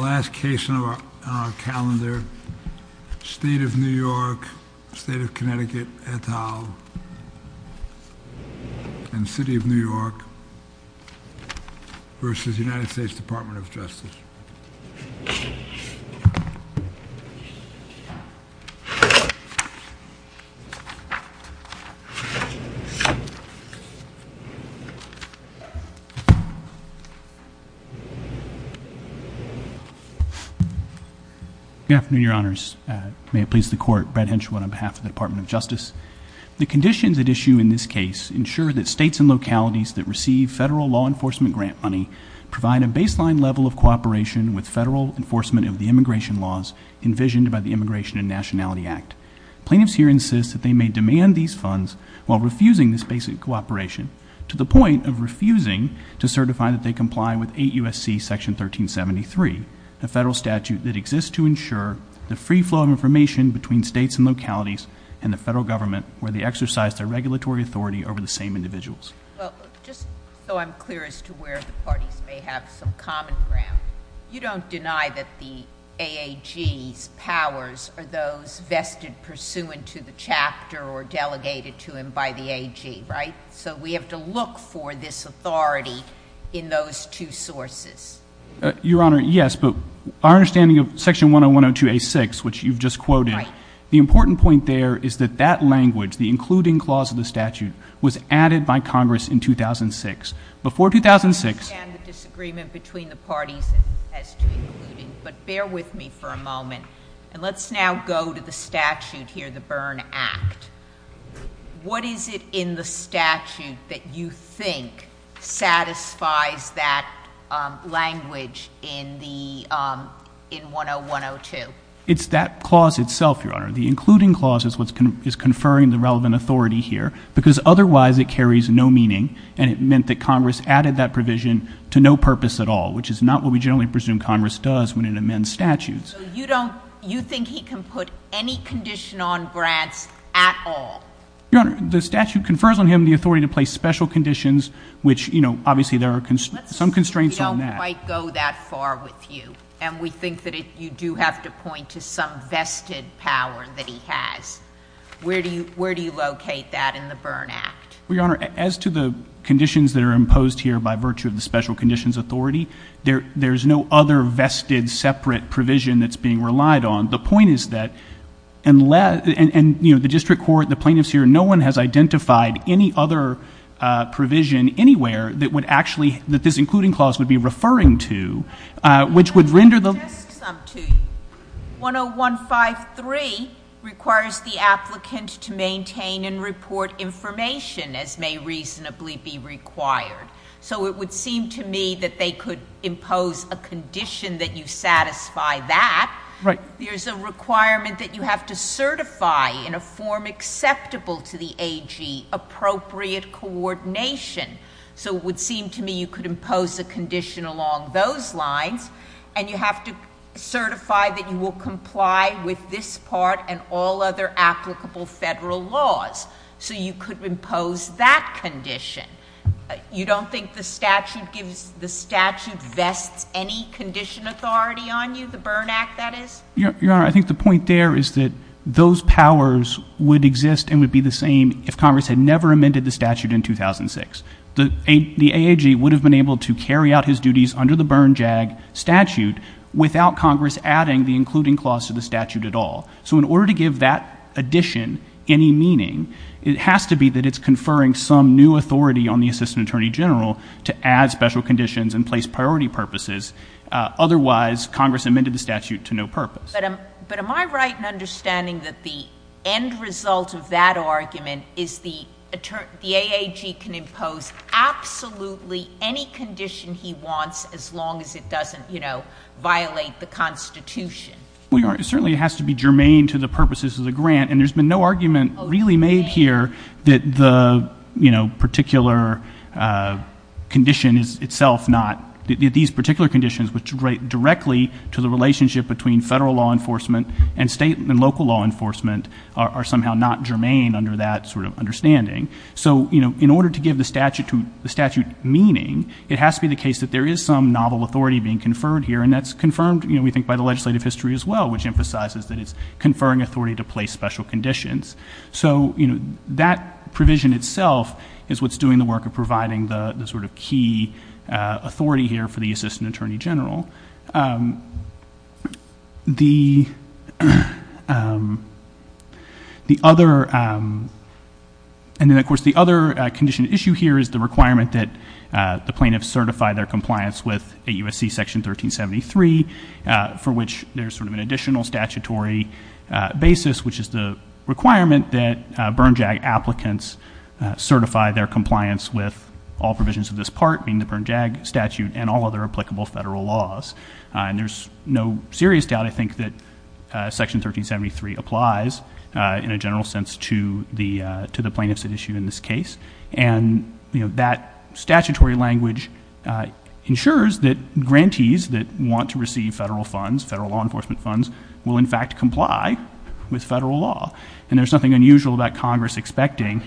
The last case on our calendar, State of New York, State of Connecticut, et al., and City of New York versus United States Department of Justice. Good afternoon, Your Honors. May it please the Court, Brad Henshaw on behalf of the Department of Justice. The conditions at issue in this case ensure that states and localities that receive federal law enforcement grant money provide a baseline level of cooperation with federal enforcement of the immigration laws envisioned by the Immigration and Nationality Act. Plaintiffs here insist that they may demand these funds while refusing this basic cooperation, to the point of refusing to certify that they comply with 8 U.S.C. Section 1373, a federal statute that exists to ensure the free flow of information between states and localities and the federal government where they exercise their regulatory authority over the same individuals. Well, just so I'm clear as to where the parties may have some common ground, you don't deny that the AAG's powers are those vested pursuant to the chapter or delegated to him by the AG, right? So we have to look for this authority in those two sources. Your Honor, yes, but our understanding of Section 10102a6, which you've just quoted, the important point there is that that language, the including clause of the statute, was added by Congress in 2006. Before 2006— I understand the disagreement between the parties as to including, but bear with me for a moment, and let's now go to the statute here, the Byrne Act. What is it in the statute that you think satisfies that language in 10102? It's that clause itself, Your Honor. The including clause is what's conferring the relevant authority here, because otherwise it carries no meaning, and it meant that Congress added that provision to no purpose at all, which is not what we generally presume Congress does when it amends statutes. So you don't—you think he can put any condition on grants at all? Your Honor, the statute confers on him the authority to place special conditions, which, you know, obviously there are some constraints on that. Let's assume he don't quite go that far with you, and we think that you do have to point to some vested power that he has. Where do you locate that in the Byrne Act? Well, Your Honor, as to the conditions that are imposed here by virtue of the special conditions authority, there's no other vested separate provision that's being relied on. The point is that—and, you know, the district court, the plaintiffs here, no one has identified any other provision anywhere that would actually—that this including clause would be referring to, which would render the— I have just some to you. 10153 requires the applicant to maintain and report information as may reasonably be required. So it would seem to me that they could impose a condition that you satisfy that. Right. There's a requirement that you have to certify in a form acceptable to the AG appropriate coordination. So it would seem to me you could impose a condition along those lines, and you have to certify that you will comply with this part and all other applicable federal laws. So you could impose that condition. You don't think the statute gives—the statute vests any condition authority on you, the Byrne Act, that is? Your Honor, I think the point there is that those powers would exist and would be the same if Congress had never amended the statute in 2006. The AAG would have been able to carry out his duties under the Byrne JAG statute without Congress adding the including clause to the statute at all. So in order to give that addition any meaning, it has to be that it's conferring some new authority on the Assistant Attorney General to add special conditions and place priority purposes. Otherwise, Congress amended the statute to no purpose. But am I right in understanding that the end result of that argument is the AAG can impose absolutely any condition he wants as long as it doesn't, you know, violate the Constitution? Well, Your Honor, it certainly has to be germane to the purposes of the grant, and there's been no argument really made here that the, you know, particular condition is itself not—that these particular conditions which relate directly to the relationship between federal law enforcement and state and local law enforcement are somehow not germane under that sort of understanding. So, you know, in order to give the statute meaning, it has to be the case that there is some novel authority being conferred here, and that's confirmed, you know, we think, by the legislative history as well, which emphasizes that it's conferring authority to place special conditions. So you know, that provision itself is what's doing the work of providing the sort of key authority here for the Assistant Attorney General. The other—and then of course the other condition issue here is the requirement that the plaintiffs certify their compliance with 8 U.S.C. Section 1373, for which there's sort of an additional statutory basis, which is the requirement that BernJAG applicants certify their compliance with all provisions of this part, meaning the BernJAG statute and all other applicable federal laws. And there's no serious doubt, I think, that Section 1373 applies in a general sense to the plaintiffs at issue in this case, and you know, that statutory language ensures that grantees that want to receive federal funds, federal law enforcement funds, will in fact comply with federal law. And there's nothing unusual about Congress expecting—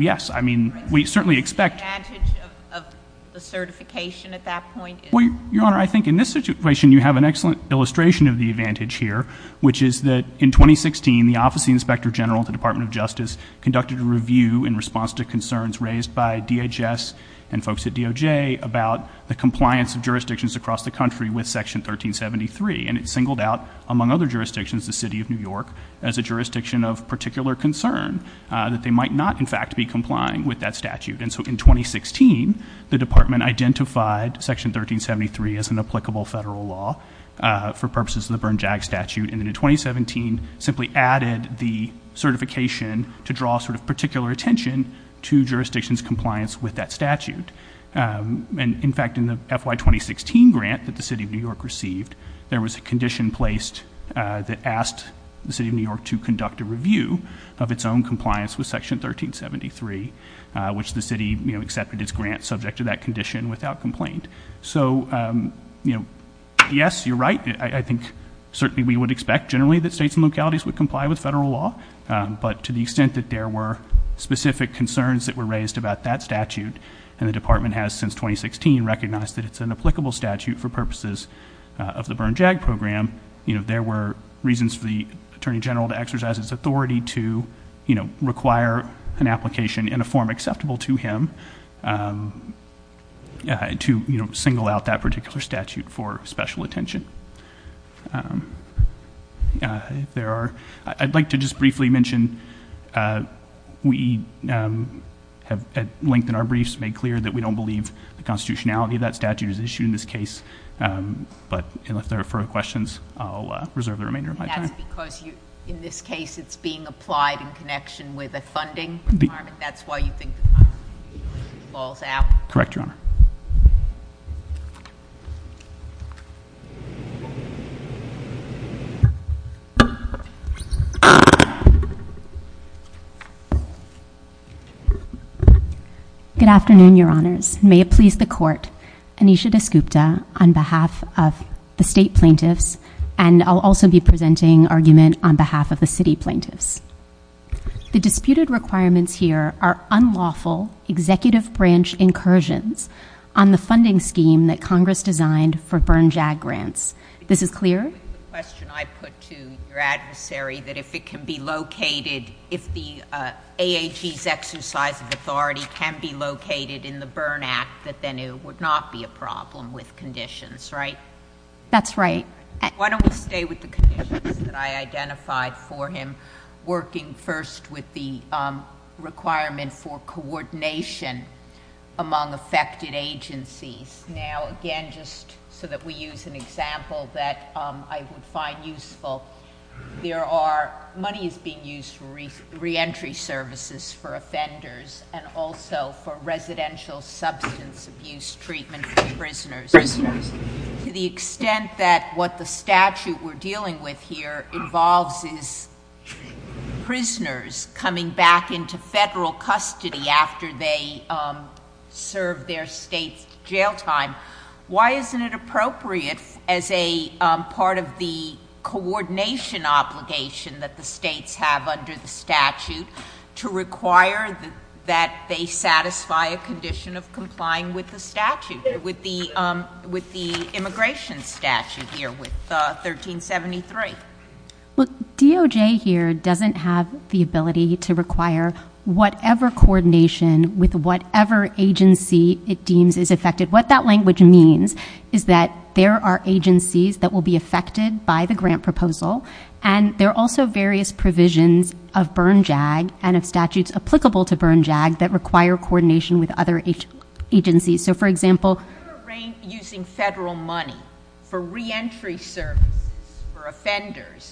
Yes. I mean, we certainly expect— The advantage of the certification at that point is— Well, Your Honor, I think in this situation, you have an excellent illustration of the advantage here, which is that in 2016, the Office of the Inspector General at the Department of Justice conducted a review in response to concerns raised by DHS and folks at DOJ about the compliance of jurisdictions across the country with Section 1373, and it singled out, among other jurisdictions, the City of New York as a jurisdiction of particular concern that they might not, in fact, be complying with that statute. And so in 2016, the Department identified Section 1373 as an applicable federal law for purposes of the BernJAG statute, and then in 2017, simply added the certification to draw sort of particular attention to jurisdictions' compliance with that statute. And in fact, in the FY 2016 grant that the City of New York received, there was a condition placed that asked the City of New York to conduct a review of its own compliance with Section 1373, which the City, you know, accepted its grant subject to that condition without complaint. So, you know, yes, you're right. I think certainly we would expect generally that states and localities would comply with federal law, but to the extent that there were specific concerns that were raised about that statute, and the Department has since 2016 recognized that it's an applicable statute for purposes of the BernJAG program, you know, there were reasons for the Attorney General to exercise his authority to, you know, require an application in a form acceptable to him to, you know, single out that particular statute for special attention. If there are, I'd like to just briefly mention we have at length in our briefs made clear that we don't believe the constitutionality of that statute is issued in this case. But if there are further questions, I'll reserve the remainder of my time. And that's because in this case it's being applied in connection with a funding requirement. That's why you think the statute falls out? Correct, Your Honor. Good afternoon, Your Honor. May it please the Court, Anisha Descupta on behalf of the state plaintiffs, and I'll also be presenting argument on behalf of the city plaintiffs. The disputed requirements here are unlawful executive branch incursions on the funding scheme that Congress designed for BernJAG grants. This is clear? With the question I put to your adversary that if it can be located, if the AAG's exercise of authority can be located in the Bern Act, that then it would not be a problem with conditions, right? That's right. Why don't we stay with the conditions that I identified for him, working first with the requirement for coordination among affected agencies. Now, again, just so that we use an example that I would find useful, there are... money is being used for reentry services for offenders and also for residential substance abuse treatment for prisoners. Prisoners. To the extent that what the statute we're dealing with here involves is prisoners coming back into federal custody after they serve their state jail time, why isn't it appropriate as a part of the coordination obligation that the states have under the statute to require that they satisfy a condition of complying with the statute, with the immigration statute here with 1373? Look, DOJ here doesn't have the ability to require whatever coordination with whatever agency it deems is affected. What that language means is that there are agencies that will be affected by the grant proposal, and there are also various provisions of Bern JAG and of statutes applicable to Bern JAG that require coordination with other agencies. So, for example...... using federal money for reentry services for offenders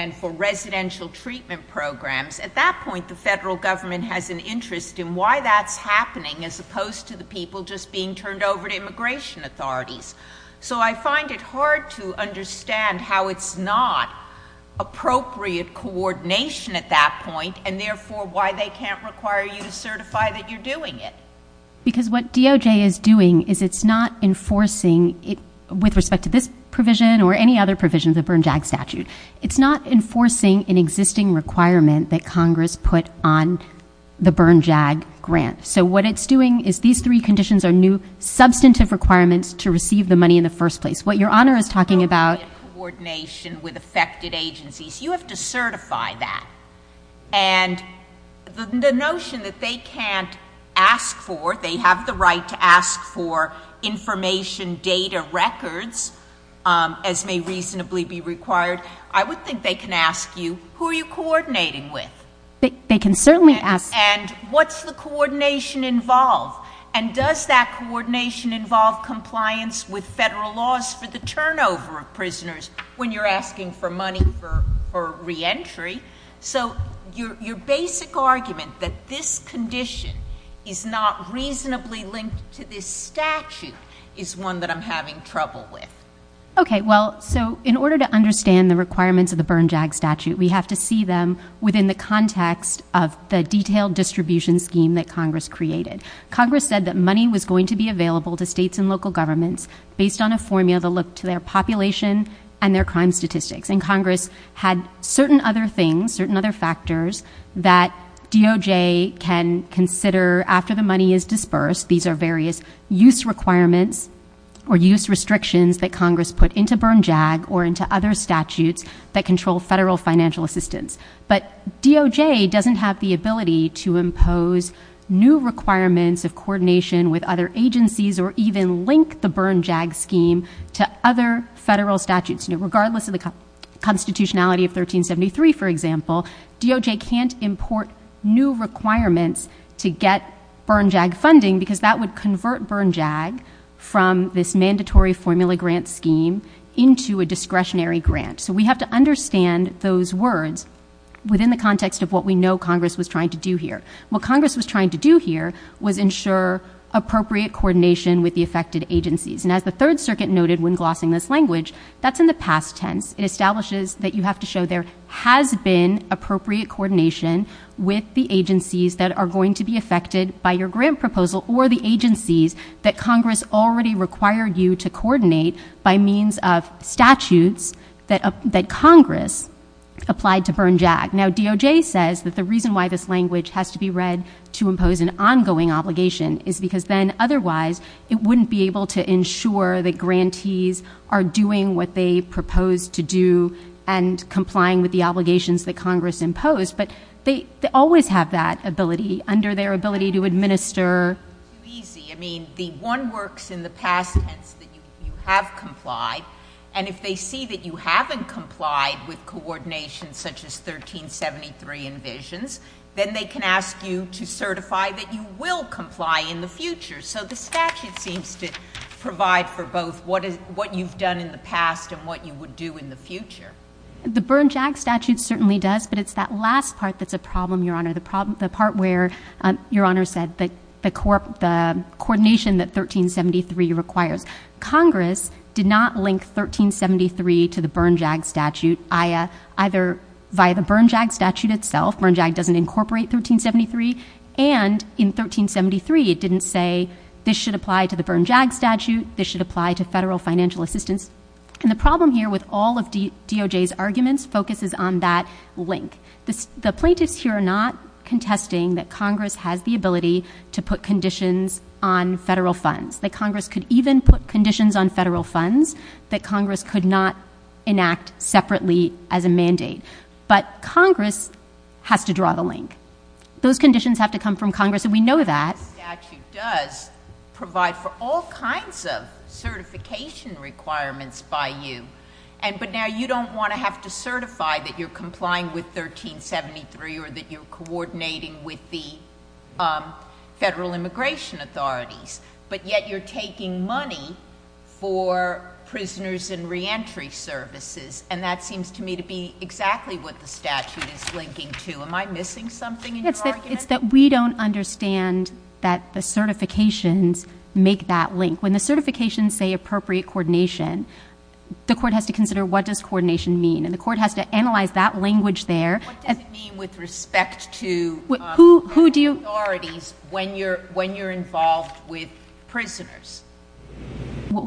and for residential treatment programs, at that point, the federal government has an interest in why that's happening as opposed to the people just being turned over to immigration authorities. So, I find it hard to understand how it's not appropriate coordination at that point and, therefore, why they can't require you to certify that you're doing it. Because what DOJ is doing is it's not enforcing, with respect to this provision or any other provision of the Bern JAG statute, it's not enforcing an existing requirement that Congress put on the Bern JAG grant. So, what it's doing is these three conditions are new substantive requirements to receive the money in the first place. What Your Honor is talking about...... appropriate coordination with affected agencies. You have to certify that. And the notion that they can't ask for, they have the right to ask for, information data records, as may reasonably be required, I would think they can ask you, who are you coordinating with? They can certainly ask... And what's the coordination involve? And does that coordination involve compliance with federal laws for the turnover of prisoners when you're asking for money for reentry? So, your basic argument that this condition is not reasonably linked to this statute is one that I'm having trouble with. Okay. Well, so, in order to understand the requirements of the Bern JAG statute, we have to see them within the context of the detailed distribution scheme that Congress created. Congress said that money was going to be available to states and local governments based on a formula that looked to their population and their crime statistics. And Congress had certain other things, certain other factors that DOJ can consider after the money is dispersed. These are various use requirements or use restrictions that Congress put into Bern JAG or into other statutes that control federal financial assistance. But DOJ doesn't have the ability to impose new requirements of coordination with other agencies or even link the Bern JAG scheme to other federal statutes. Regardless of the constitutionality of 1373, for example, DOJ can't import new requirements to get Bern JAG funding because that would convert Bern JAG from this mandatory formula grant scheme into a discretionary grant. So we have to understand those words within the context of what we know Congress was trying to do here. What Congress was trying to do here was ensure appropriate coordination with the affected agencies. And as the Third Circuit noted when glossing this language, that's in the past tense. It establishes that you have to show there has been appropriate coordination with the agencies that are going to be affected by your grant proposal or the agencies that Congress already required you to coordinate by means of statutes that Congress applied to Bern JAG. Now, DOJ says that the reason why this language has to be read to impose an ongoing obligation is because then otherwise it wouldn't be able to ensure that grantees are doing what they proposed to do and complying with the obligations that Congress imposed. It's too easy. I mean, the one works in the past tense that you have complied. And if they see that you haven't complied with coordination such as 1373 envisions, then they can ask you to certify that you will comply in the future. So the statute seems to provide for both what you've done in the past and what you would do in the future. The Bern JAG statute certainly does, but it's that last part that's a problem, Your Honor, the part where Your Honor said the coordination that 1373 requires. Congress did not link 1373 to the Bern JAG statute either via the Bern JAG statute itself. Bern JAG doesn't incorporate 1373. And in 1373, it didn't say this should apply to the Bern JAG statute, this should apply to federal financial assistance. And the problem here with all of DOJ's arguments focuses on that link. The plaintiffs here are not contesting that Congress has the ability to put conditions on federal funds, that Congress could even put conditions on federal funds that Congress could not enact separately as a mandate. But Congress has to draw the link. Those conditions have to come from Congress, and we know that. This statute does provide for all kinds of certification requirements by you. But now you don't want to have to certify that you're complying with 1373 or that you're coordinating with the federal immigration authorities, but yet you're taking money for prisoners and reentry services, and that seems to me to be exactly what the statute is linking to. Am I missing something in your argument? It's that we don't understand that the certifications make that link. When the certifications say appropriate coordination, the court has to consider what does coordination mean, and the court has to analyze that language there. What does it mean with respect to authorities when you're involved with prisoners?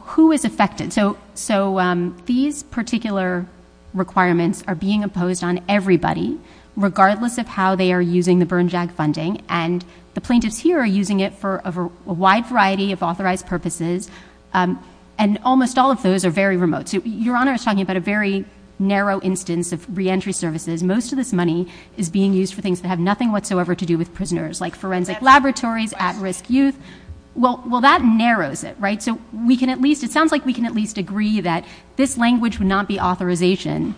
Who is affected? So, these particular requirements are being imposed on everybody, regardless of how they are using the Bern JAG funding, and the plaintiffs here are using it for a wide variety of authorized purposes, and almost all of those are very remote. Your Honor is talking about a very narrow instance of reentry services. Most of this money is being used for things that have nothing whatsoever to do with prisoners, like forensic laboratories, at-risk youth. Well, that narrows it, right? It sounds like we can at least agree that this language would not be authorization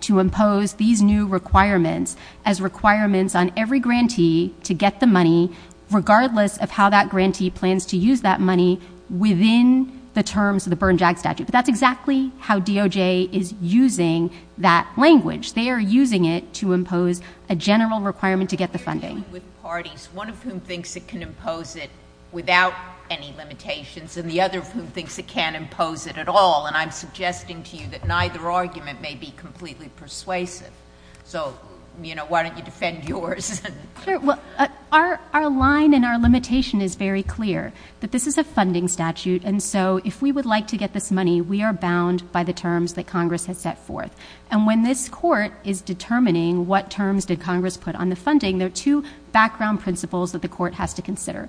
to impose these new requirements as requirements on every grantee to get the money, regardless of how that grantee plans to use that money within the terms of the Bern JAG statute. But that's exactly how DOJ is using that language. They are using it to impose a general requirement to get the funding. You're dealing with parties, one of whom thinks it can impose it without any limitations, and the other of whom thinks it can't impose it at all, and I'm suggesting to you that neither argument may be completely persuasive. So, you know, why don't you defend yours? Sure, well, our line and our limitation is very clear, that this is a funding statute, and so if we would like to get this money, we are bound by the terms that Congress has set forth. And when this Court is determining what terms did Congress put on the funding, there are two background principles that the Court has to consider.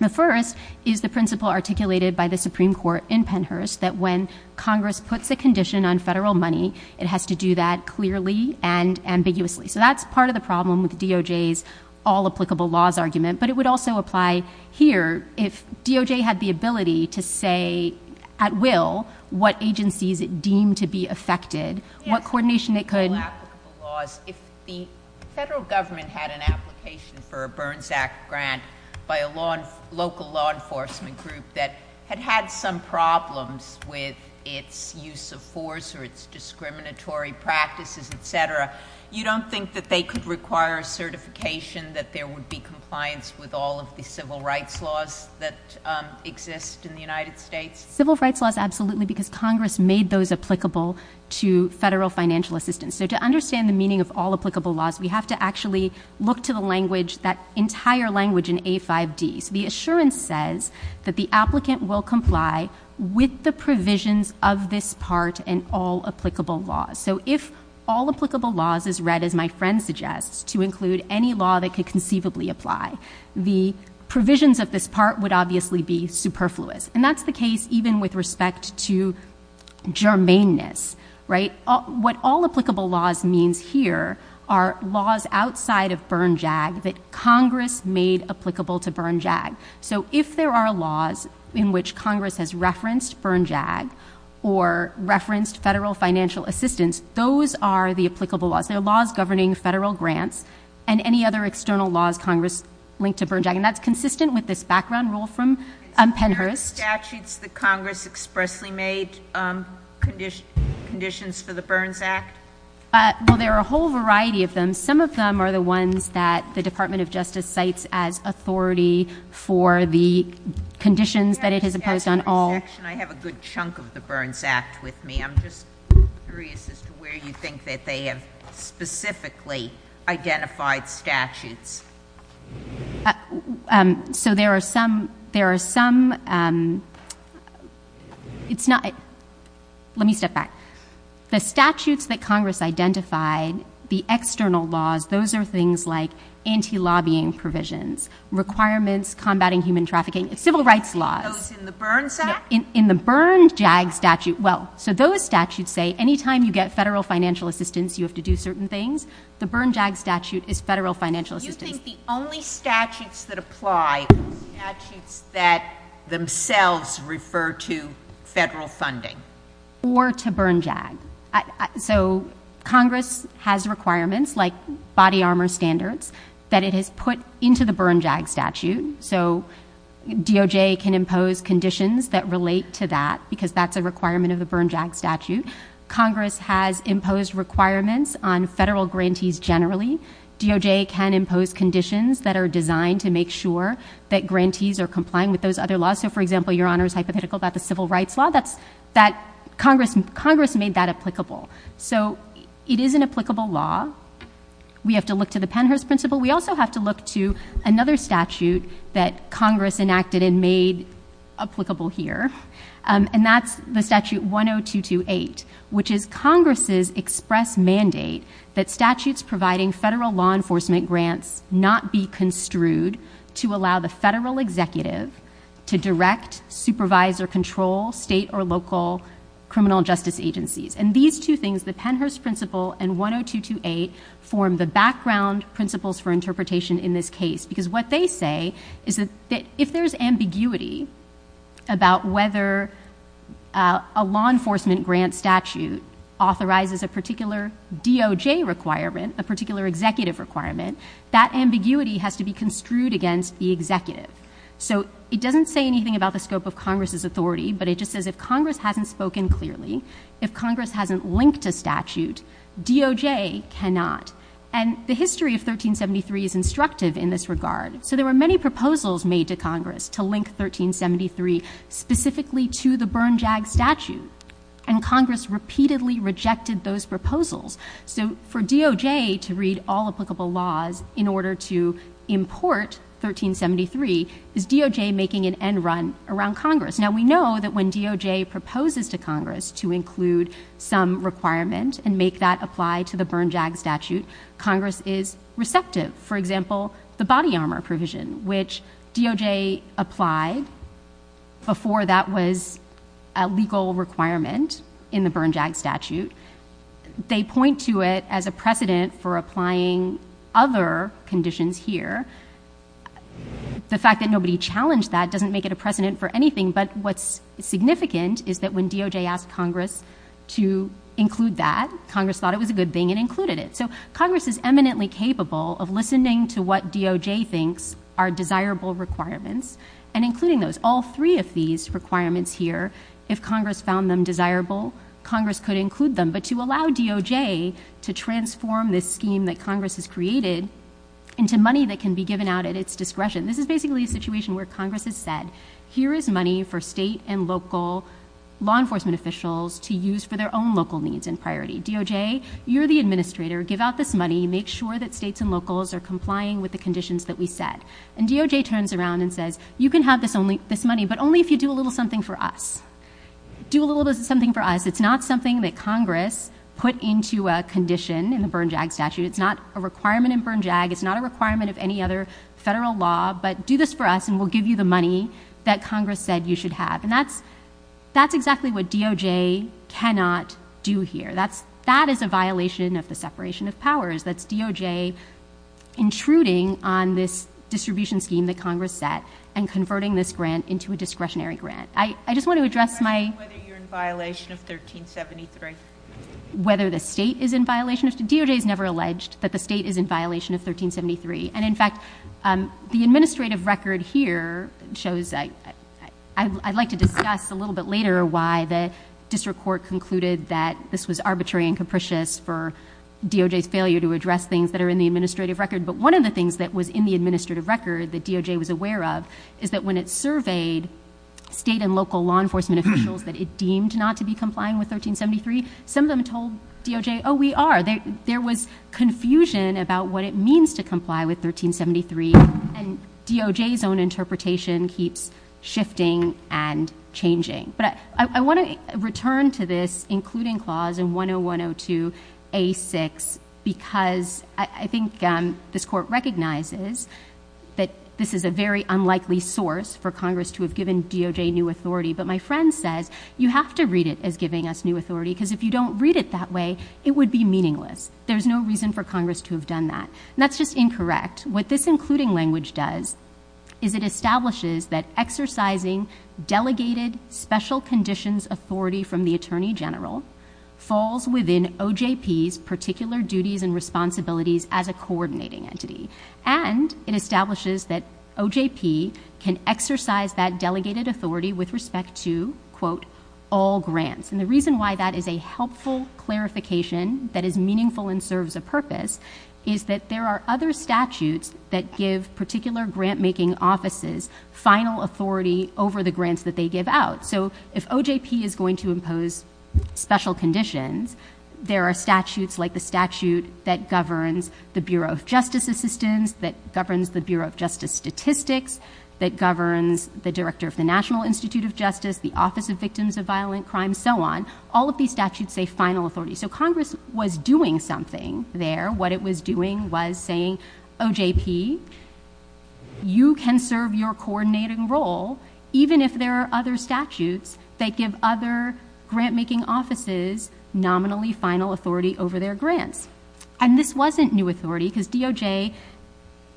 The first is the principle articulated by the Supreme Court in Pennhurst, that when Congress puts a condition on federal money, it has to do that clearly and ambiguously. So that's part of the problem with DOJ's all-applicable laws argument, but it would also apply here if DOJ had the ability to say at will what agencies it deemed to be affected, what coordination it could— Yes, all-applicable laws. If the federal government had an application for a Burns Act grant by a local law enforcement group that had had some problems with its use of force or its discriminatory practices, et cetera, you don't think that they could require a certification that there would be compliance with all of the civil rights laws that exist in the United States? Civil rights laws, absolutely, because Congress made those applicable to federal financial assistance. So to understand the meaning of all-applicable laws, we have to actually look to the language, that entire language in A5D. So the assurance says that the applicant will comply with the provisions of this part in all-applicable laws. So if all-applicable laws is read, as my friend suggests, to include any law that could conceivably apply, the provisions of this part would obviously be superfluous. And that's the case even with respect to germaneness, right? What all-applicable laws means here are laws outside of Burn-JAG that Congress made applicable to Burn-JAG. So if there are laws in which Congress has referenced Burn-JAG or referenced federal financial assistance, those are the applicable laws. They're laws governing federal grants and any other external laws Congress linked to Burn-JAG. And that's consistent with this background rule from Pennhurst. Is there statutes that Congress expressly made conditions for the Burns Act? Well, there are a whole variety of them. Some of them are the ones that the Department of Justice cites as authority for the conditions that it has imposed on all... I have a good chunk of the Burns Act with me. I'm just curious as to where you think that they have specifically identified statutes. So there are some... It's not... Let me step back. The statutes that Congress identified, the external laws, those are things like anti-lobbying provisions, requirements combating human trafficking, civil rights laws. Those in the Burns Act? In the Burn-JAG statute, well, so those statutes say any time you get federal financial assistance you have to do certain things. The Burn-JAG statute is federal financial assistance. Do you think the only statutes that apply are statutes that themselves refer to federal funding? Or to Burn-JAG. So Congress has requirements like body armor standards that it has put into the Burn-JAG statute. So DOJ can impose conditions that relate to that because that's a requirement of the Burn-JAG statute. Congress has imposed requirements on federal grantees generally. DOJ can impose conditions that are designed to make sure that grantees are complying with those other laws. So for example, Your Honor's hypothetical about the civil rights law. Congress made that applicable. So it is an applicable law. We have to look to the Pennhurst principle. We also have to look to another statute that Congress enacted and made applicable here. And that's the statute 10228, which is Congress's express mandate that statutes providing federal law enforcement grants not be construed to allow the federal executive to direct, supervise, or control state or local criminal justice agencies. And these two things, the Pennhurst principle and 10228, form the background principles for interpretation in this case. Because what they say is that if there's ambiguity about whether a law enforcement grant statute authorizes a particular DOJ requirement, a particular executive requirement, that ambiguity has to be construed against the executive. So it doesn't say anything about the scope of Congress's authority, but it just says if Congress hasn't spoken clearly, if Congress hasn't linked a statute, DOJ cannot. And the history of 1373 is instructive in this regard. So there were many proposals made to Congress to link 1373 specifically to the Bernjag statute. And Congress repeatedly rejected those proposals. So for DOJ to read all applicable laws in order to import 1373, is DOJ making an end run around Congress? Now we know that when DOJ proposes to Congress to include some requirement and make that apply to the Bernjag statute, Congress is receptive. For example, the body armor provision, which DOJ applied before that was a legal requirement in the Bernjag statute. They point to it as a precedent for applying other conditions here. The fact that nobody challenged that doesn't make it a precedent for anything. But what's significant is that when DOJ asked Congress to include that, Congress thought it was a good thing and included it. So Congress is eminently capable of listening to what DOJ thinks are desirable requirements and including those. All three of these requirements here, if Congress found them desirable, Congress could include them. But to allow DOJ to transform this scheme that Congress has created into money that can be given out at its discretion. This is basically a situation where Congress has said, here is money for state and local law enforcement officials to use for their own local needs and priority. DOJ, you're the administrator. Give out this money. Make sure that states and locals are complying with the conditions that we set. And DOJ turns around and says, you can have this money, but only if you do a little something for us. Do a little something for us. It's not something that Congress put into a condition in the Bern JAG statute. It's not a requirement in Bern JAG. It's not a requirement of any other federal law, but do this for us and we'll give you the money that Congress said you should have. And that's exactly what DOJ cannot do here. That is a violation of the separation of powers. That's DOJ intruding on this distribution scheme that Congress set and converting this grant into a discretionary grant. I just want to address my- 1373. Whether the state is in violation of DOJ is never alleged that the state is in violation of 1373. And in fact, the administrative record here shows, I'd like to discuss a little bit later why the district court concluded that this was arbitrary and capricious for DOJ's failure to address things that are in the administrative record. But one of the things that was in the administrative record that DOJ was aware of is that when it surveyed state and local law enforcement officials that it deemed not to be complying with 1373, some of them told DOJ, oh, we are. There was confusion about what it means to comply with 1373 and DOJ's own interpretation keeps shifting and changing. But I want to return to this including clause in 10102A6 because I think this court recognizes that this is a very unlikely source for Congress to have given DOJ new authority. But my friend says, you have to read it as giving us new authority because if you don't read it that way, it would be meaningless. There's no reason for Congress to have done that. That's just incorrect. What this including language does is it establishes that exercising delegated special conditions authority from the Attorney General falls within OJP's particular duties and responsibilities as a coordinating entity. And it establishes that OJP can exercise that delegated authority with respect to, quote, all grants. And the reason why that is a helpful clarification that is meaningful and serves a purpose is that there are other statutes that give particular grantmaking offices final authority over the grants that they give out. So if OJP is going to impose special conditions, there are statutes like the statute that governs the Bureau of Justice Assistance, that governs the Bureau of Justice Statistics, that governs the Director of the National Institute of Justice, the Office of Victims of Violent Crime, so on. All of these statutes say final authority. So Congress was doing something there. What it was doing was saying, OJP, you can serve your coordinating role even if there are other statutes that give other grantmaking offices nominally final authority over their grants. And this wasn't new authority because DOJ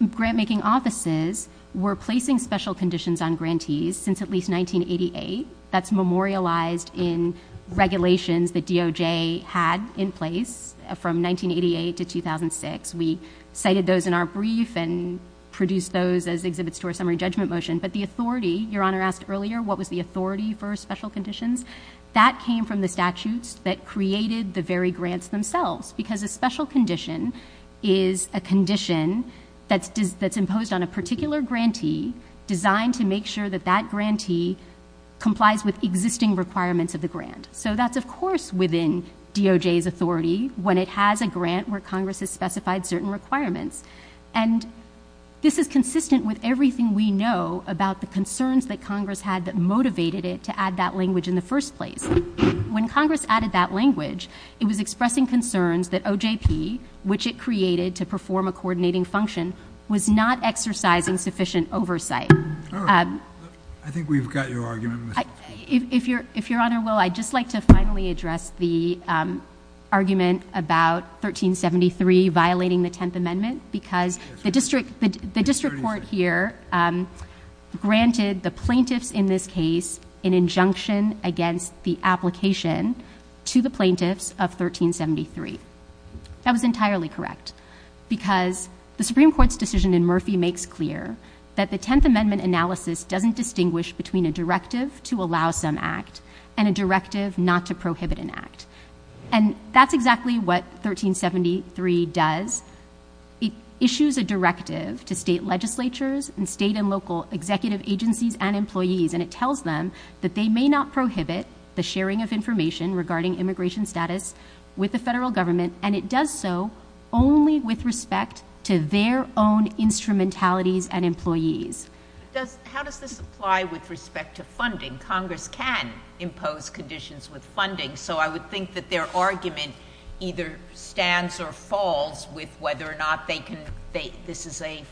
grantmaking offices were placing special conditions on grantees since at least 1988. That's memorialized in regulations that DOJ had in place from 1988 to 2006. We cited those in our brief and produced those as exhibits to our summary judgment motion. But the authority, Your Honor asked earlier, what was the authority for special conditions? That came from the statutes that created the very grants themselves. Because a special condition is a condition that's imposed on a particular grantee designed to make sure that that grantee complies with existing requirements of the grant. So that's, of course, within DOJ's authority when it has a grant where Congress has specified certain requirements. And this is consistent with everything we know about the concerns that Congress had that motivated it to add that language in the first place. When Congress added that language, it was expressing concerns that OJP, which it created to perform a coordinating function, was not exercising sufficient oversight. I think we've got your argument, Ms. Huffman. If Your Honor will, I'd just like to finally address the argument about 1373 violating the Tenth Amendment because the district court here granted the plaintiffs in this case an injunction against the application to the plaintiffs of 1373. That was entirely correct because the Supreme Court's decision in Murphy makes clear that the Tenth Amendment analysis doesn't distinguish between a directive to allow some act and a directive not to prohibit an act. And that's exactly what 1373 does. It issues a directive to state legislatures and state and local executive agencies and employees and it tells them that they may not prohibit the sharing of information regarding immigration status with the federal government, and it does so only with respect to their own instrumentalities and employees. How does this apply with respect to funding? Congress can impose conditions with funding, so I would think that their argument either stands or falls with whether or not this is a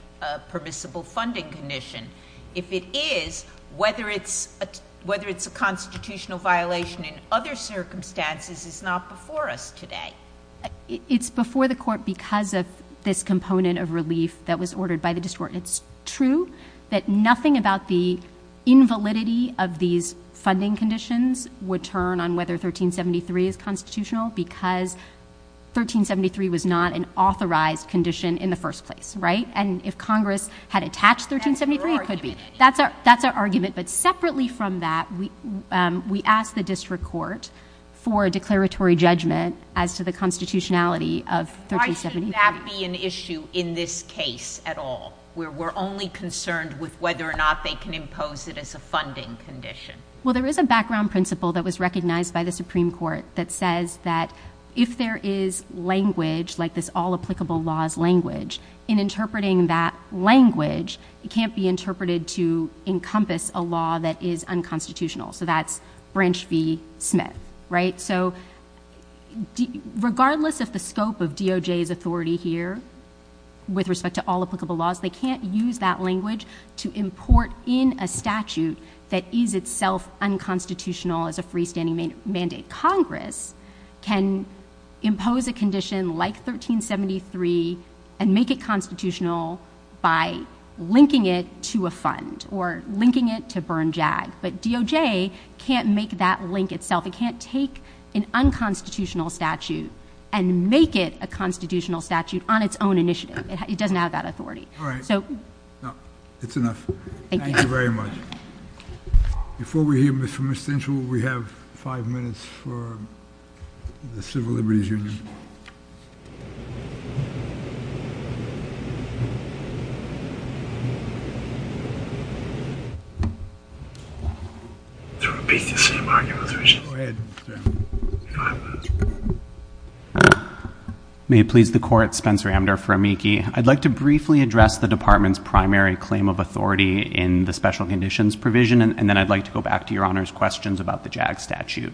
permissible funding condition. If it is, whether it's a constitutional violation in other circumstances is not before us today. It's before the court because of this component of relief that was ordered by the district court. It's true that nothing about the invalidity of these funding conditions would turn on whether 1373 is constitutional because 1373 was not an authorized condition in the first place, right? And if Congress had attached 1373, it could be. That's our argument, but separately from that, we ask the district court for a declaratory judgment as to the constitutionality of 1373. Would that be an issue in this case at all, where we're only concerned with whether or not they can impose it as a funding condition? Well, there is a background principle that was recognized by the Supreme Court that says that if there is language, like this all applicable laws language, in interpreting that language, it can't be interpreted to encompass a law that is unconstitutional, so that's Branch v. Smith, right? So regardless of the scope of DOJ's authority here with respect to all applicable laws, they can't use that language to import in a statute that is itself unconstitutional as a freestanding mandate. Congress can impose a condition like 1373 and make it constitutional by linking it to a fund or linking it to Burn Jag, but DOJ can't make that link itself. It can't take an unconstitutional statute and make it a constitutional statute on its own initiative. It doesn't have that authority. All right. No, it's enough. Thank you. Thank you very much. Before we hear Mr. McStinchell, we have five minutes for the Civil Liberties Union. May it please the Court, Spencer Amdur for Amici. I'd like to briefly address the Department's primary claim of authority in the special conditions provision, and then I'd like to go back to Your Honor's questions about the Jag statute.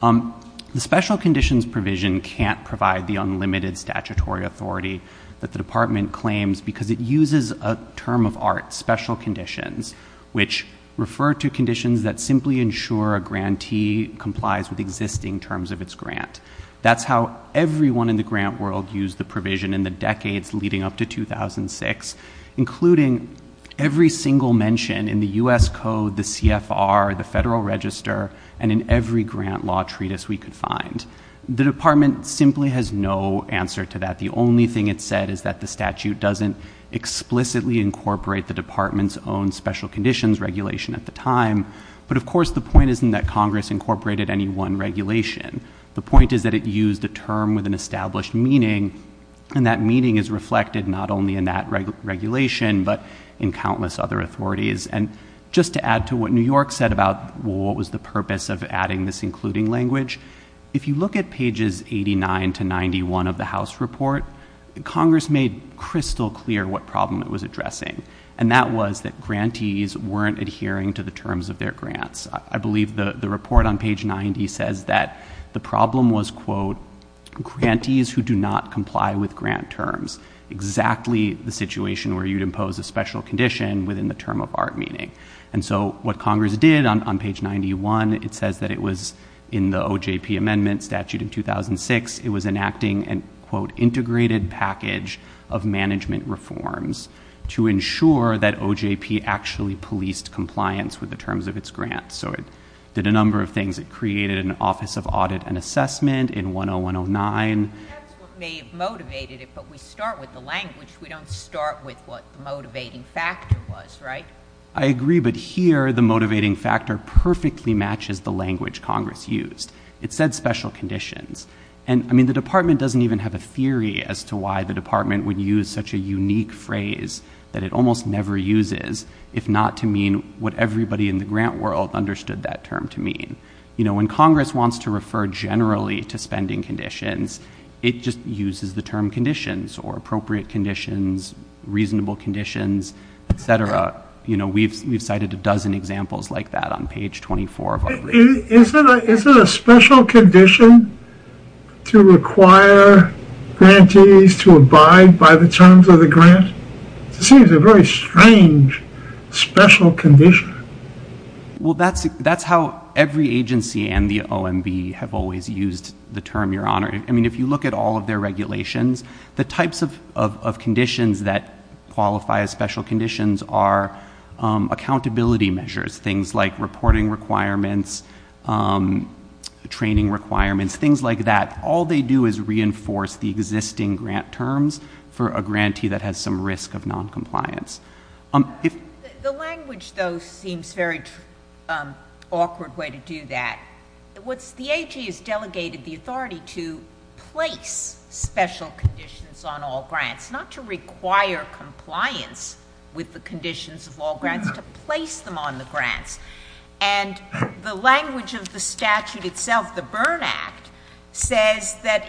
The special conditions provision can't provide the unlimited statutory authority that the Department claims because it uses a term of art, special conditions, which refer to conditions that simply ensure a grantee complies with existing terms of its grant. That's how everyone in the grant world used the provision in the decades leading up to 2006, including every single mention in the U.S. Code, the CFR, the Federal Register, and in every grant law treatise we could find. The Department simply has no answer to that. The only thing it said is that the statute doesn't explicitly incorporate the Department's own special conditions regulation at the time, but of course the point isn't that Congress incorporated any one regulation. The point is that it used a term with an established meaning, and that meaning is reflected not only in that regulation, but in countless other authorities. Just to add to what New York said about what was the purpose of adding this including language, if you look at pages 89 to 91 of the House report, Congress made crystal clear what problem it was addressing, and that was that grantees weren't adhering to the terms of their grants. I believe the report on page 90 says that the problem was, quote, grantees who do not comply with grant terms, exactly the situation where you'd impose a special condition within the term of art meaning. And so what Congress did on page 91, it says that it was in the OJP Amendment Statute in 2006, it was enacting an, quote, integrated package of management reforms to ensure that OJP actually policed compliance with the terms of its grants. So it did a number of things. It created an Office of Audit and Assessment in 10109. That's what may have motivated it, but we start with the language, we don't start with what the motivating factor was, right? I agree, but here the motivating factor perfectly matches the language Congress used. It said special conditions. And I mean, the Department doesn't even have a theory as to why the Department would use such a unique phrase that it almost never uses, if not to mean what everybody in the grant world understood that term to mean. You know, when Congress wants to refer generally to spending conditions, it just uses the term conditions or appropriate conditions, reasonable conditions, et cetera. You know, we've cited a dozen examples like that on page 24 of our report. Is it a special condition to require grantees to abide by the terms of the grant? It seems a very strange special condition. Well, that's how every agency and the OMB have always used the term, Your Honor. I mean, if you look at all of their regulations, the types of conditions that qualify as special conditions are accountability measures, things like reporting requirements, training requirements, things like that. All they do is reinforce the existing grant terms for a grantee that has some risk of noncompliance. The language, though, seems a very awkward way to do that. The AG has delegated the authority to place special conditions on all grants, not to require compliance with the conditions of all grants, to place them on the grants. And the language of the statute itself, the Byrne Act, says that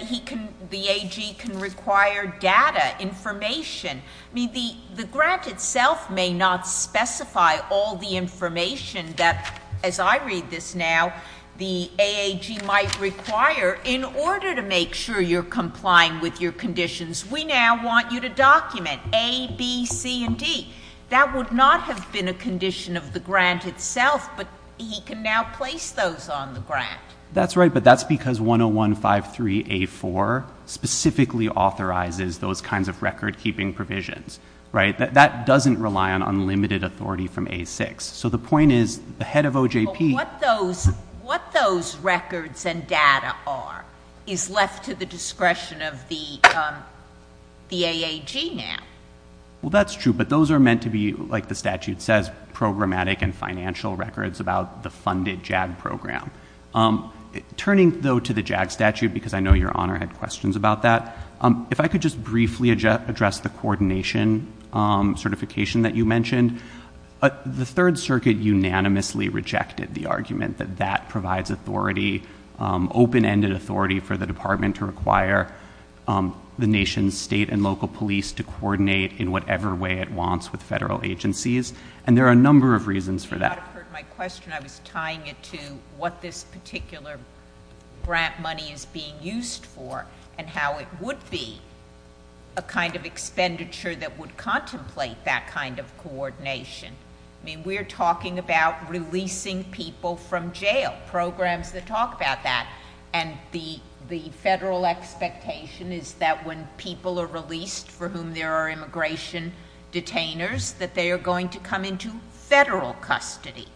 the AG can require data, information. I mean, the grant itself may not specify all the information that, as I read this now, the AAG might require in order to make sure you're complying with your conditions. We now want you to document A, B, C, and D. That would not have been a condition of the grant itself, but he can now place those on the grant. That's right, but that's because 101-53-A-4 specifically authorizes those kinds of record-keeping provisions, right? That doesn't rely on unlimited authority from A-6. So the point is, the head of OJP... But what those records and data are is left to the discretion of the AAG now. Well, that's true, but those are meant to be, like the statute says, programmatic and financial records about the funded JAG program. Turning, though, to the JAG statute, because I know Your Honor had questions about that, if I could just briefly address the coordination certification that you mentioned. The Third Circuit unanimously rejected the argument that that provides authority, open-ended authority for the Department to require the nation's state and local police to coordinate in whatever way it wants with federal agencies, and there are a number of reasons for that. You might have heard my question. I was tying it to what this particular grant money is being used for and how it would be a kind of expenditure that would contemplate that kind of coordination. I mean, we're talking about releasing people from jail, programs that talk about that, and the federal expectation is that when people are released for whom there are immigration detainers, that they are going to come into federal custody.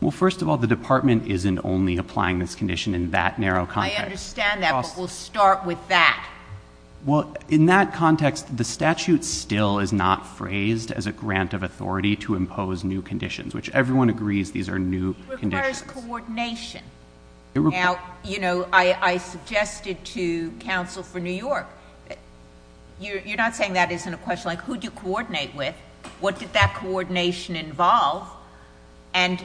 Well, first of all, the Department isn't only applying this condition in that narrow context. I understand that, but we'll start with that. Well, in that context, the statute still is not phrased as a grant of authority to impose new conditions, which everyone agrees these are new conditions. It requires coordination. Now, you know, I suggested to counsel for New York, you're not saying that isn't a question, like who do you coordinate with, what did that coordination involve, and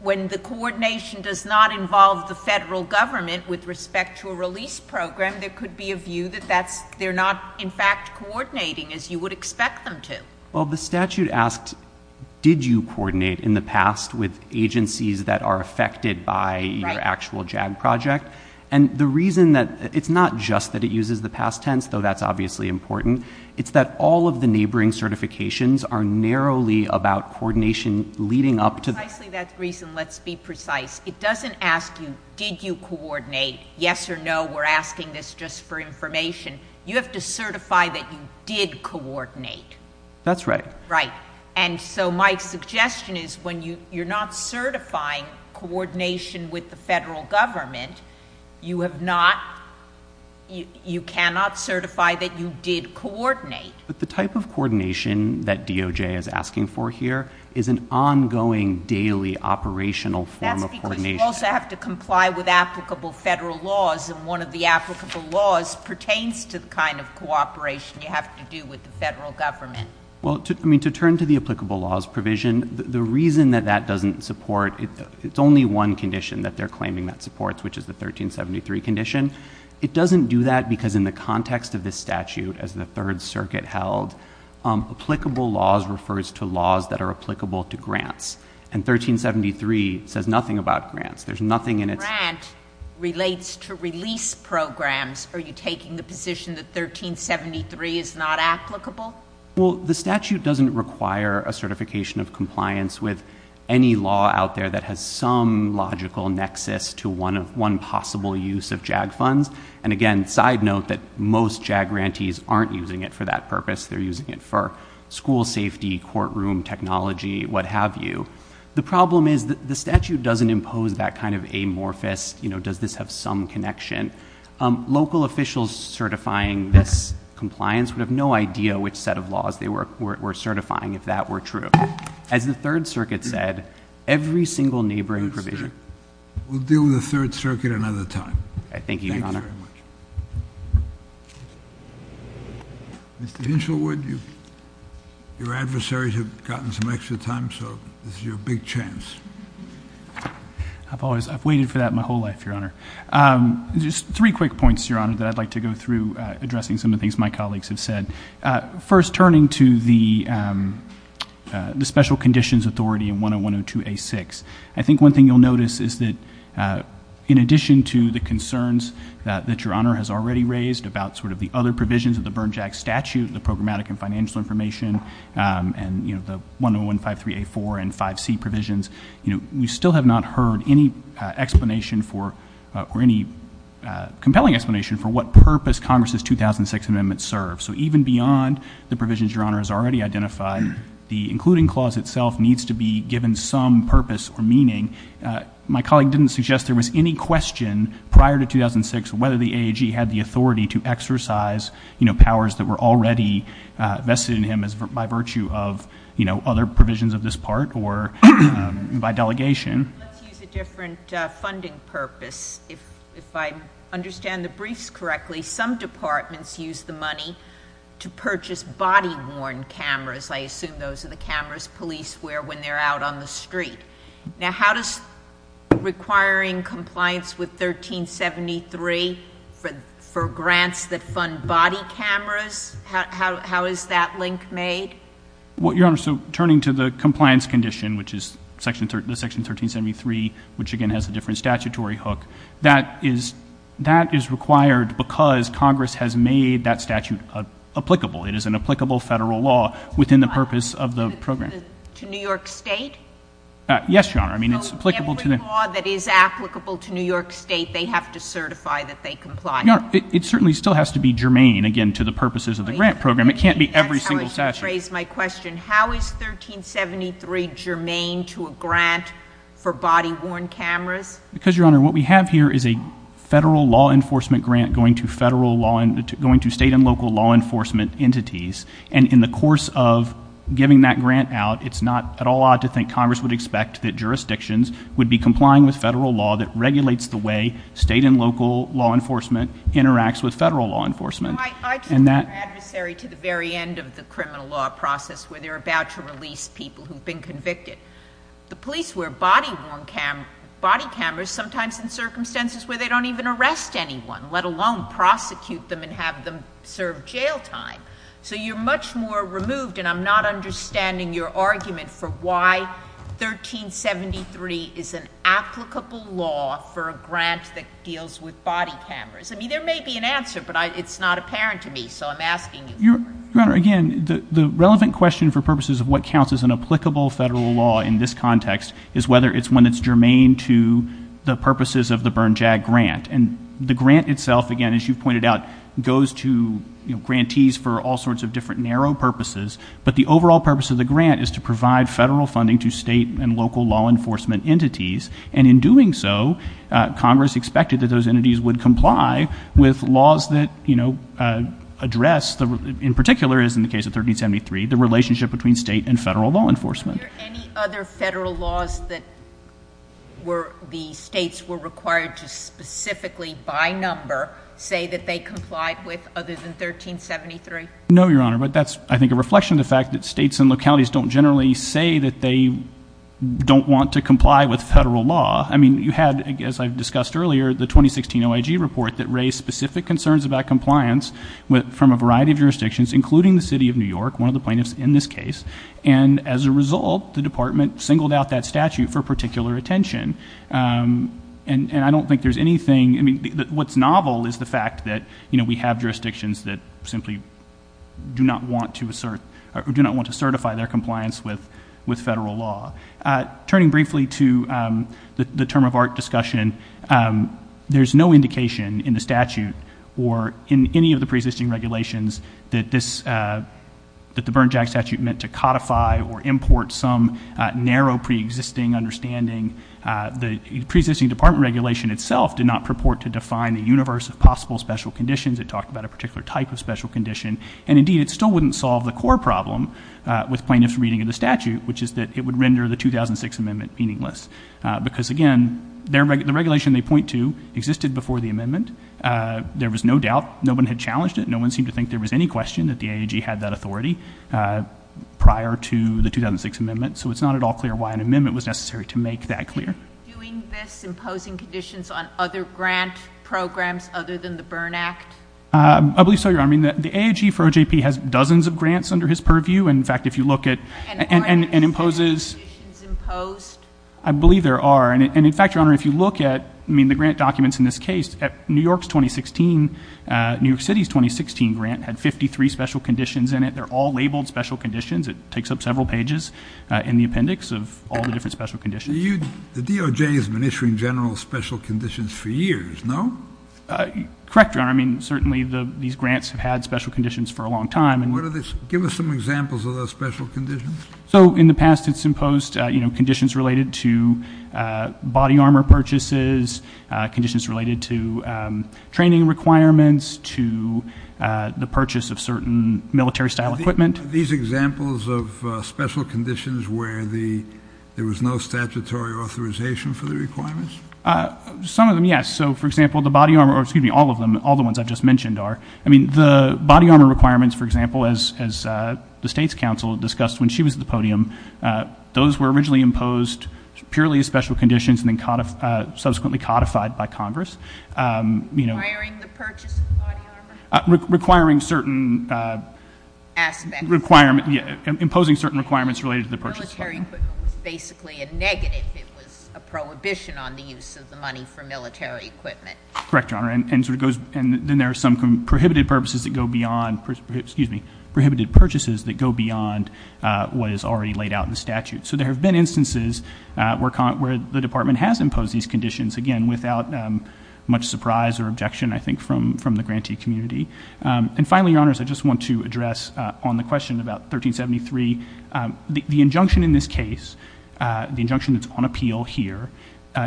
when the coordination does not involve the federal government with respect to a release program, there could be a view that that's, they're not, in fact, coordinating as you would expect them to. Well, the statute asked, did you coordinate in the past with agencies that are affected by your actual JAG project, and the reason that it's not just that it uses the past tense, though that's obviously important, it's that all of the neighboring certifications are narrowly about coordination leading up to that. Precisely that reason, let's be precise. It doesn't ask you, did you coordinate, yes or no, we're asking this just for information. You have to certify that you did coordinate. That's right. Right. And so my suggestion is when you're not certifying coordination with the federal government, you have not, you cannot certify that you did coordinate. But the type of coordination that DOJ is asking for here is an ongoing, daily, operational form of coordination. That's because you also have to comply with applicable federal laws, and one of the applicable laws pertains to the kind of cooperation you have to do with the federal government. Well, I mean, to turn to the applicable laws provision, the reason that that doesn't support, it's only one condition that they're claiming that supports, which is the 1373 condition. It doesn't do that because in the context of this statute, as the Third Circuit held, applicable laws refers to laws that are applicable to grants, and 1373 says nothing about grants. There's nothing in it. If a grant relates to release programs, are you taking the position that 1373 is not applicable? Well, the statute doesn't require a certification of compliance with any law out there that has some logical nexus to one possible use of JAG funds. And again, side note that most JAG grantees aren't using it for that purpose. They're using it for school safety, courtroom technology, what have you. The problem is that the statute doesn't impose that kind of amorphous, you know, does this have some connection? And second, local officials certifying this compliance would have no idea which set of laws they were certifying, if that were true. As the Third Circuit said, every single neighboring provision... We'll deal with the Third Circuit another time. Thank you, Your Honor. Mr. Inshelwood, your adversaries have gotten some extra time, so this is your big chance. I've waited for that my whole life, Your Honor. Just three quick points, Your Honor, that I'd like to go through, addressing some of the things my colleagues have said. First, turning to the Special Conditions Authority and 10102A6. I think one thing you'll notice is that in addition to the concerns that Your Honor has already raised about sort of the other provisions of the Bern JAG statute, the programmatic and financial information, and, you know, the 101153A4 and 5C provisions, you know, we have not heard any explanation for... or any compelling explanation for what purpose Congress's 2006 amendment serves. So even beyond the provisions Your Honor has already identified, the including clause itself needs to be given some purpose or meaning. My colleague didn't suggest there was any question prior to 2006 whether the AAG had the authority to exercise, you know, powers that were already vested in him by virtue of, you know, other provisions of this part or by delegation. Let's use a different funding purpose. If I understand the briefs correctly, some departments use the money to purchase body-worn cameras. I assume those are the cameras police wear when they're out on the street. Now how does requiring compliance with 1373 for grants that fund body cameras, how is that link made? Well, Your Honor, so turning to the compliance condition, which is Section 1373, which again has a different statutory hook, that is required because Congress has made that statute applicable. It is an applicable Federal law within the purpose of the program. To New York State? Yes, Your Honor. I mean, it's applicable to the... So every law that is applicable to New York State, they have to certify that they comply? Your Honor, it certainly still has to be germane, again, to the purposes of the grant program. It can't be every single statute. That's how I should phrase my question. How is 1373 germane to a grant for body-worn cameras? Because Your Honor, what we have here is a Federal law enforcement grant going to State and local law enforcement entities, and in the course of giving that grant out, it's not at all odd to think Congress would expect that jurisdictions would be complying with Federal law that regulates the way State and local law enforcement interacts with Federal law enforcement. I just want to be an adversary to the very end of the criminal law process where they're about to release people who've been convicted. The police wear body-worn cameras, sometimes in circumstances where they don't even arrest anyone, let alone prosecute them and have them serve jail time. So you're much more removed, and I'm not understanding your argument for why 1373 is an applicable law for a grant that deals with body cameras. I mean, there may be an answer, but it's not apparent to me, so I'm asking you. Your Honor, again, the relevant question for purposes of what counts as an applicable Federal law in this context is whether it's one that's germane to the purposes of the Bernjag grant. And the grant itself, again, as you've pointed out, goes to grantees for all sorts of different narrow purposes, but the overall purpose of the grant is to provide Federal funding to State and local law enforcement entities, and in doing so, Congress expected that those entities comply with laws that address, in particular, as in the case of 1373, the relationship between State and Federal law enforcement. Are there any other Federal laws that the States were required to specifically, by number, say that they complied with other than 1373? No, Your Honor, but that's, I think, a reflection of the fact that States and localities don't generally say that they don't want to comply with Federal law. I mean, you had, as I've discussed earlier, the 2016 OIG report that raised specific concerns about compliance from a variety of jurisdictions, including the City of New York, one of the plaintiffs in this case, and as a result, the Department singled out that statute for particular attention, and I don't think there's anything, I mean, what's novel is the fact that, you know, we have jurisdictions that simply do not want to assert, or do not want to certify their compliance with Federal law. Turning briefly to the term of art discussion, there's no indication in the statute or in any of the preexisting regulations that this, that the Bernjack statute meant to codify or import some narrow preexisting understanding. The preexisting Department regulation itself did not purport to define the universe of possible special conditions. It talked about a particular type of special condition, and indeed, it still wouldn't solve the core problem with plaintiffs' reading of the statute, which is that it would render the 2006 amendment meaningless, because again, the regulation they point to existed before the amendment. There was no doubt. No one had challenged it. No one seemed to think there was any question that the AAG had that authority prior to the 2006 amendment, so it's not at all clear why an amendment was necessary to make that clear. Are you doing this, imposing conditions on other grant programs other than the Bern Act? I believe so, Your Honor. I mean, the AAG for OJP has dozens of grants under his purview, and in fact, if you look at— And are there any special conditions imposed? I believe there are, and in fact, Your Honor, if you look at, I mean, the grant documents in this case, New York's 2016, New York City's 2016 grant had 53 special conditions in it. They're all labeled special conditions. It takes up several pages in the appendix of all the different special conditions. The DOJ has been issuing general special conditions for years, no? Correct, Your Honor. I mean, certainly, these grants have had special conditions for a long time, and— What are they? Give us some examples of those special conditions. So in the past, it's imposed, you know, conditions related to body armor purchases, conditions related to training requirements, to the purchase of certain military-style equipment. Are these examples of special conditions where the—there was no statutory authorization for the requirements? Some of them, yes. So, for example, the body armor—or, excuse me, all of them, all the ones I've just mentioned are. I mean, the body armor requirements, for example, as the State's counsel discussed when she was at the podium, those were originally imposed purely as special conditions and then subsequently codified by Congress, you know— Requiring the purchase of body armor? Requiring certain— Aspects. Requirements. Yeah. Imposing certain requirements related to the purchase of body armor. Military equipment was basically a negative. It was a prohibition on the use of the money for military equipment. Correct, Your Honor. And so it goes—and then there are some prohibited purposes that go beyond—excuse me, prohibited purchases that go beyond what is already laid out in the statute. So there have been instances where the Department has imposed these conditions, again, without much surprise or objection, I think, from the grantee community. And finally, Your Honors, I just want to address on the question about 1373, the injunction in this case, the injunction that's on appeal here,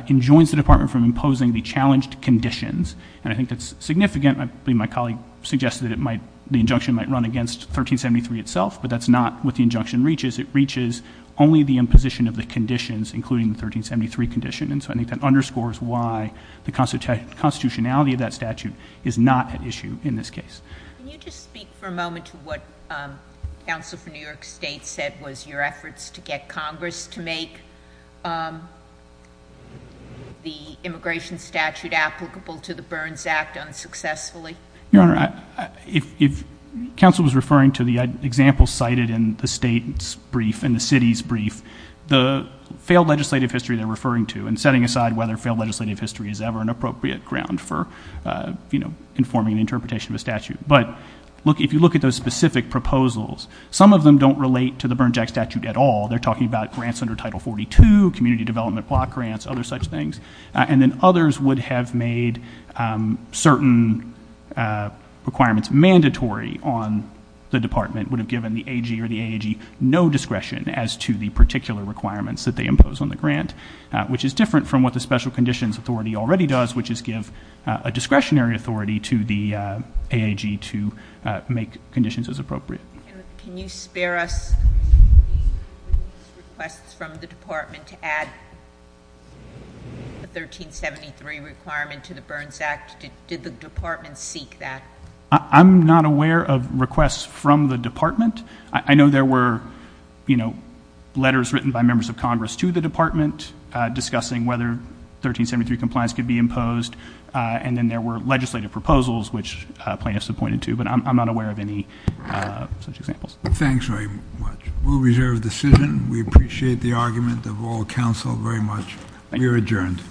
enjoins the Department from imposing the challenged conditions. And I think that's significant. I believe my colleague suggested that it might—the injunction might run against 1373 itself, but that's not what the injunction reaches. It reaches only the imposition of the conditions, including the 1373 condition. And so I think that underscores why the constitutionality of that statute is not at issue in this case. Can you just speak for a moment to what counsel for New York State said was your efforts to get Congress to make the immigration statute applicable to the Burns Act unsuccessfully? Your Honor, if counsel was referring to the example cited in the state's brief, in the city's brief, the failed legislative history they're referring to, and setting aside whether failed legislative history is ever an appropriate ground for, you know, informing an interpretation of a statute. But look, if you look at those specific proposals, some of them don't relate to the Burns Act statute at all. They're talking about grants under Title 42, community development block grants, other such things. And then others would have made certain requirements mandatory on the Department, would have given the AG or the AAG no discretion as to the particular requirements that they impose on the grant, which is different from what the Special Conditions Authority already does, which is give a discretionary authority to the AAG to make conditions as appropriate. Can you spare us requests from the Department to add the 1373 requirement to the Burns Act? Did the Department seek that? I'm not aware of requests from the Department. I know there were, you know, letters written by members of Congress to the Department discussing whether 1373 compliance could be imposed. And then there were legislative proposals, which plaintiffs appointed to. But I'm not aware of any such examples. Thanks very much. We'll reserve the decision. We appreciate the argument of all counsel very much. You're adjourned.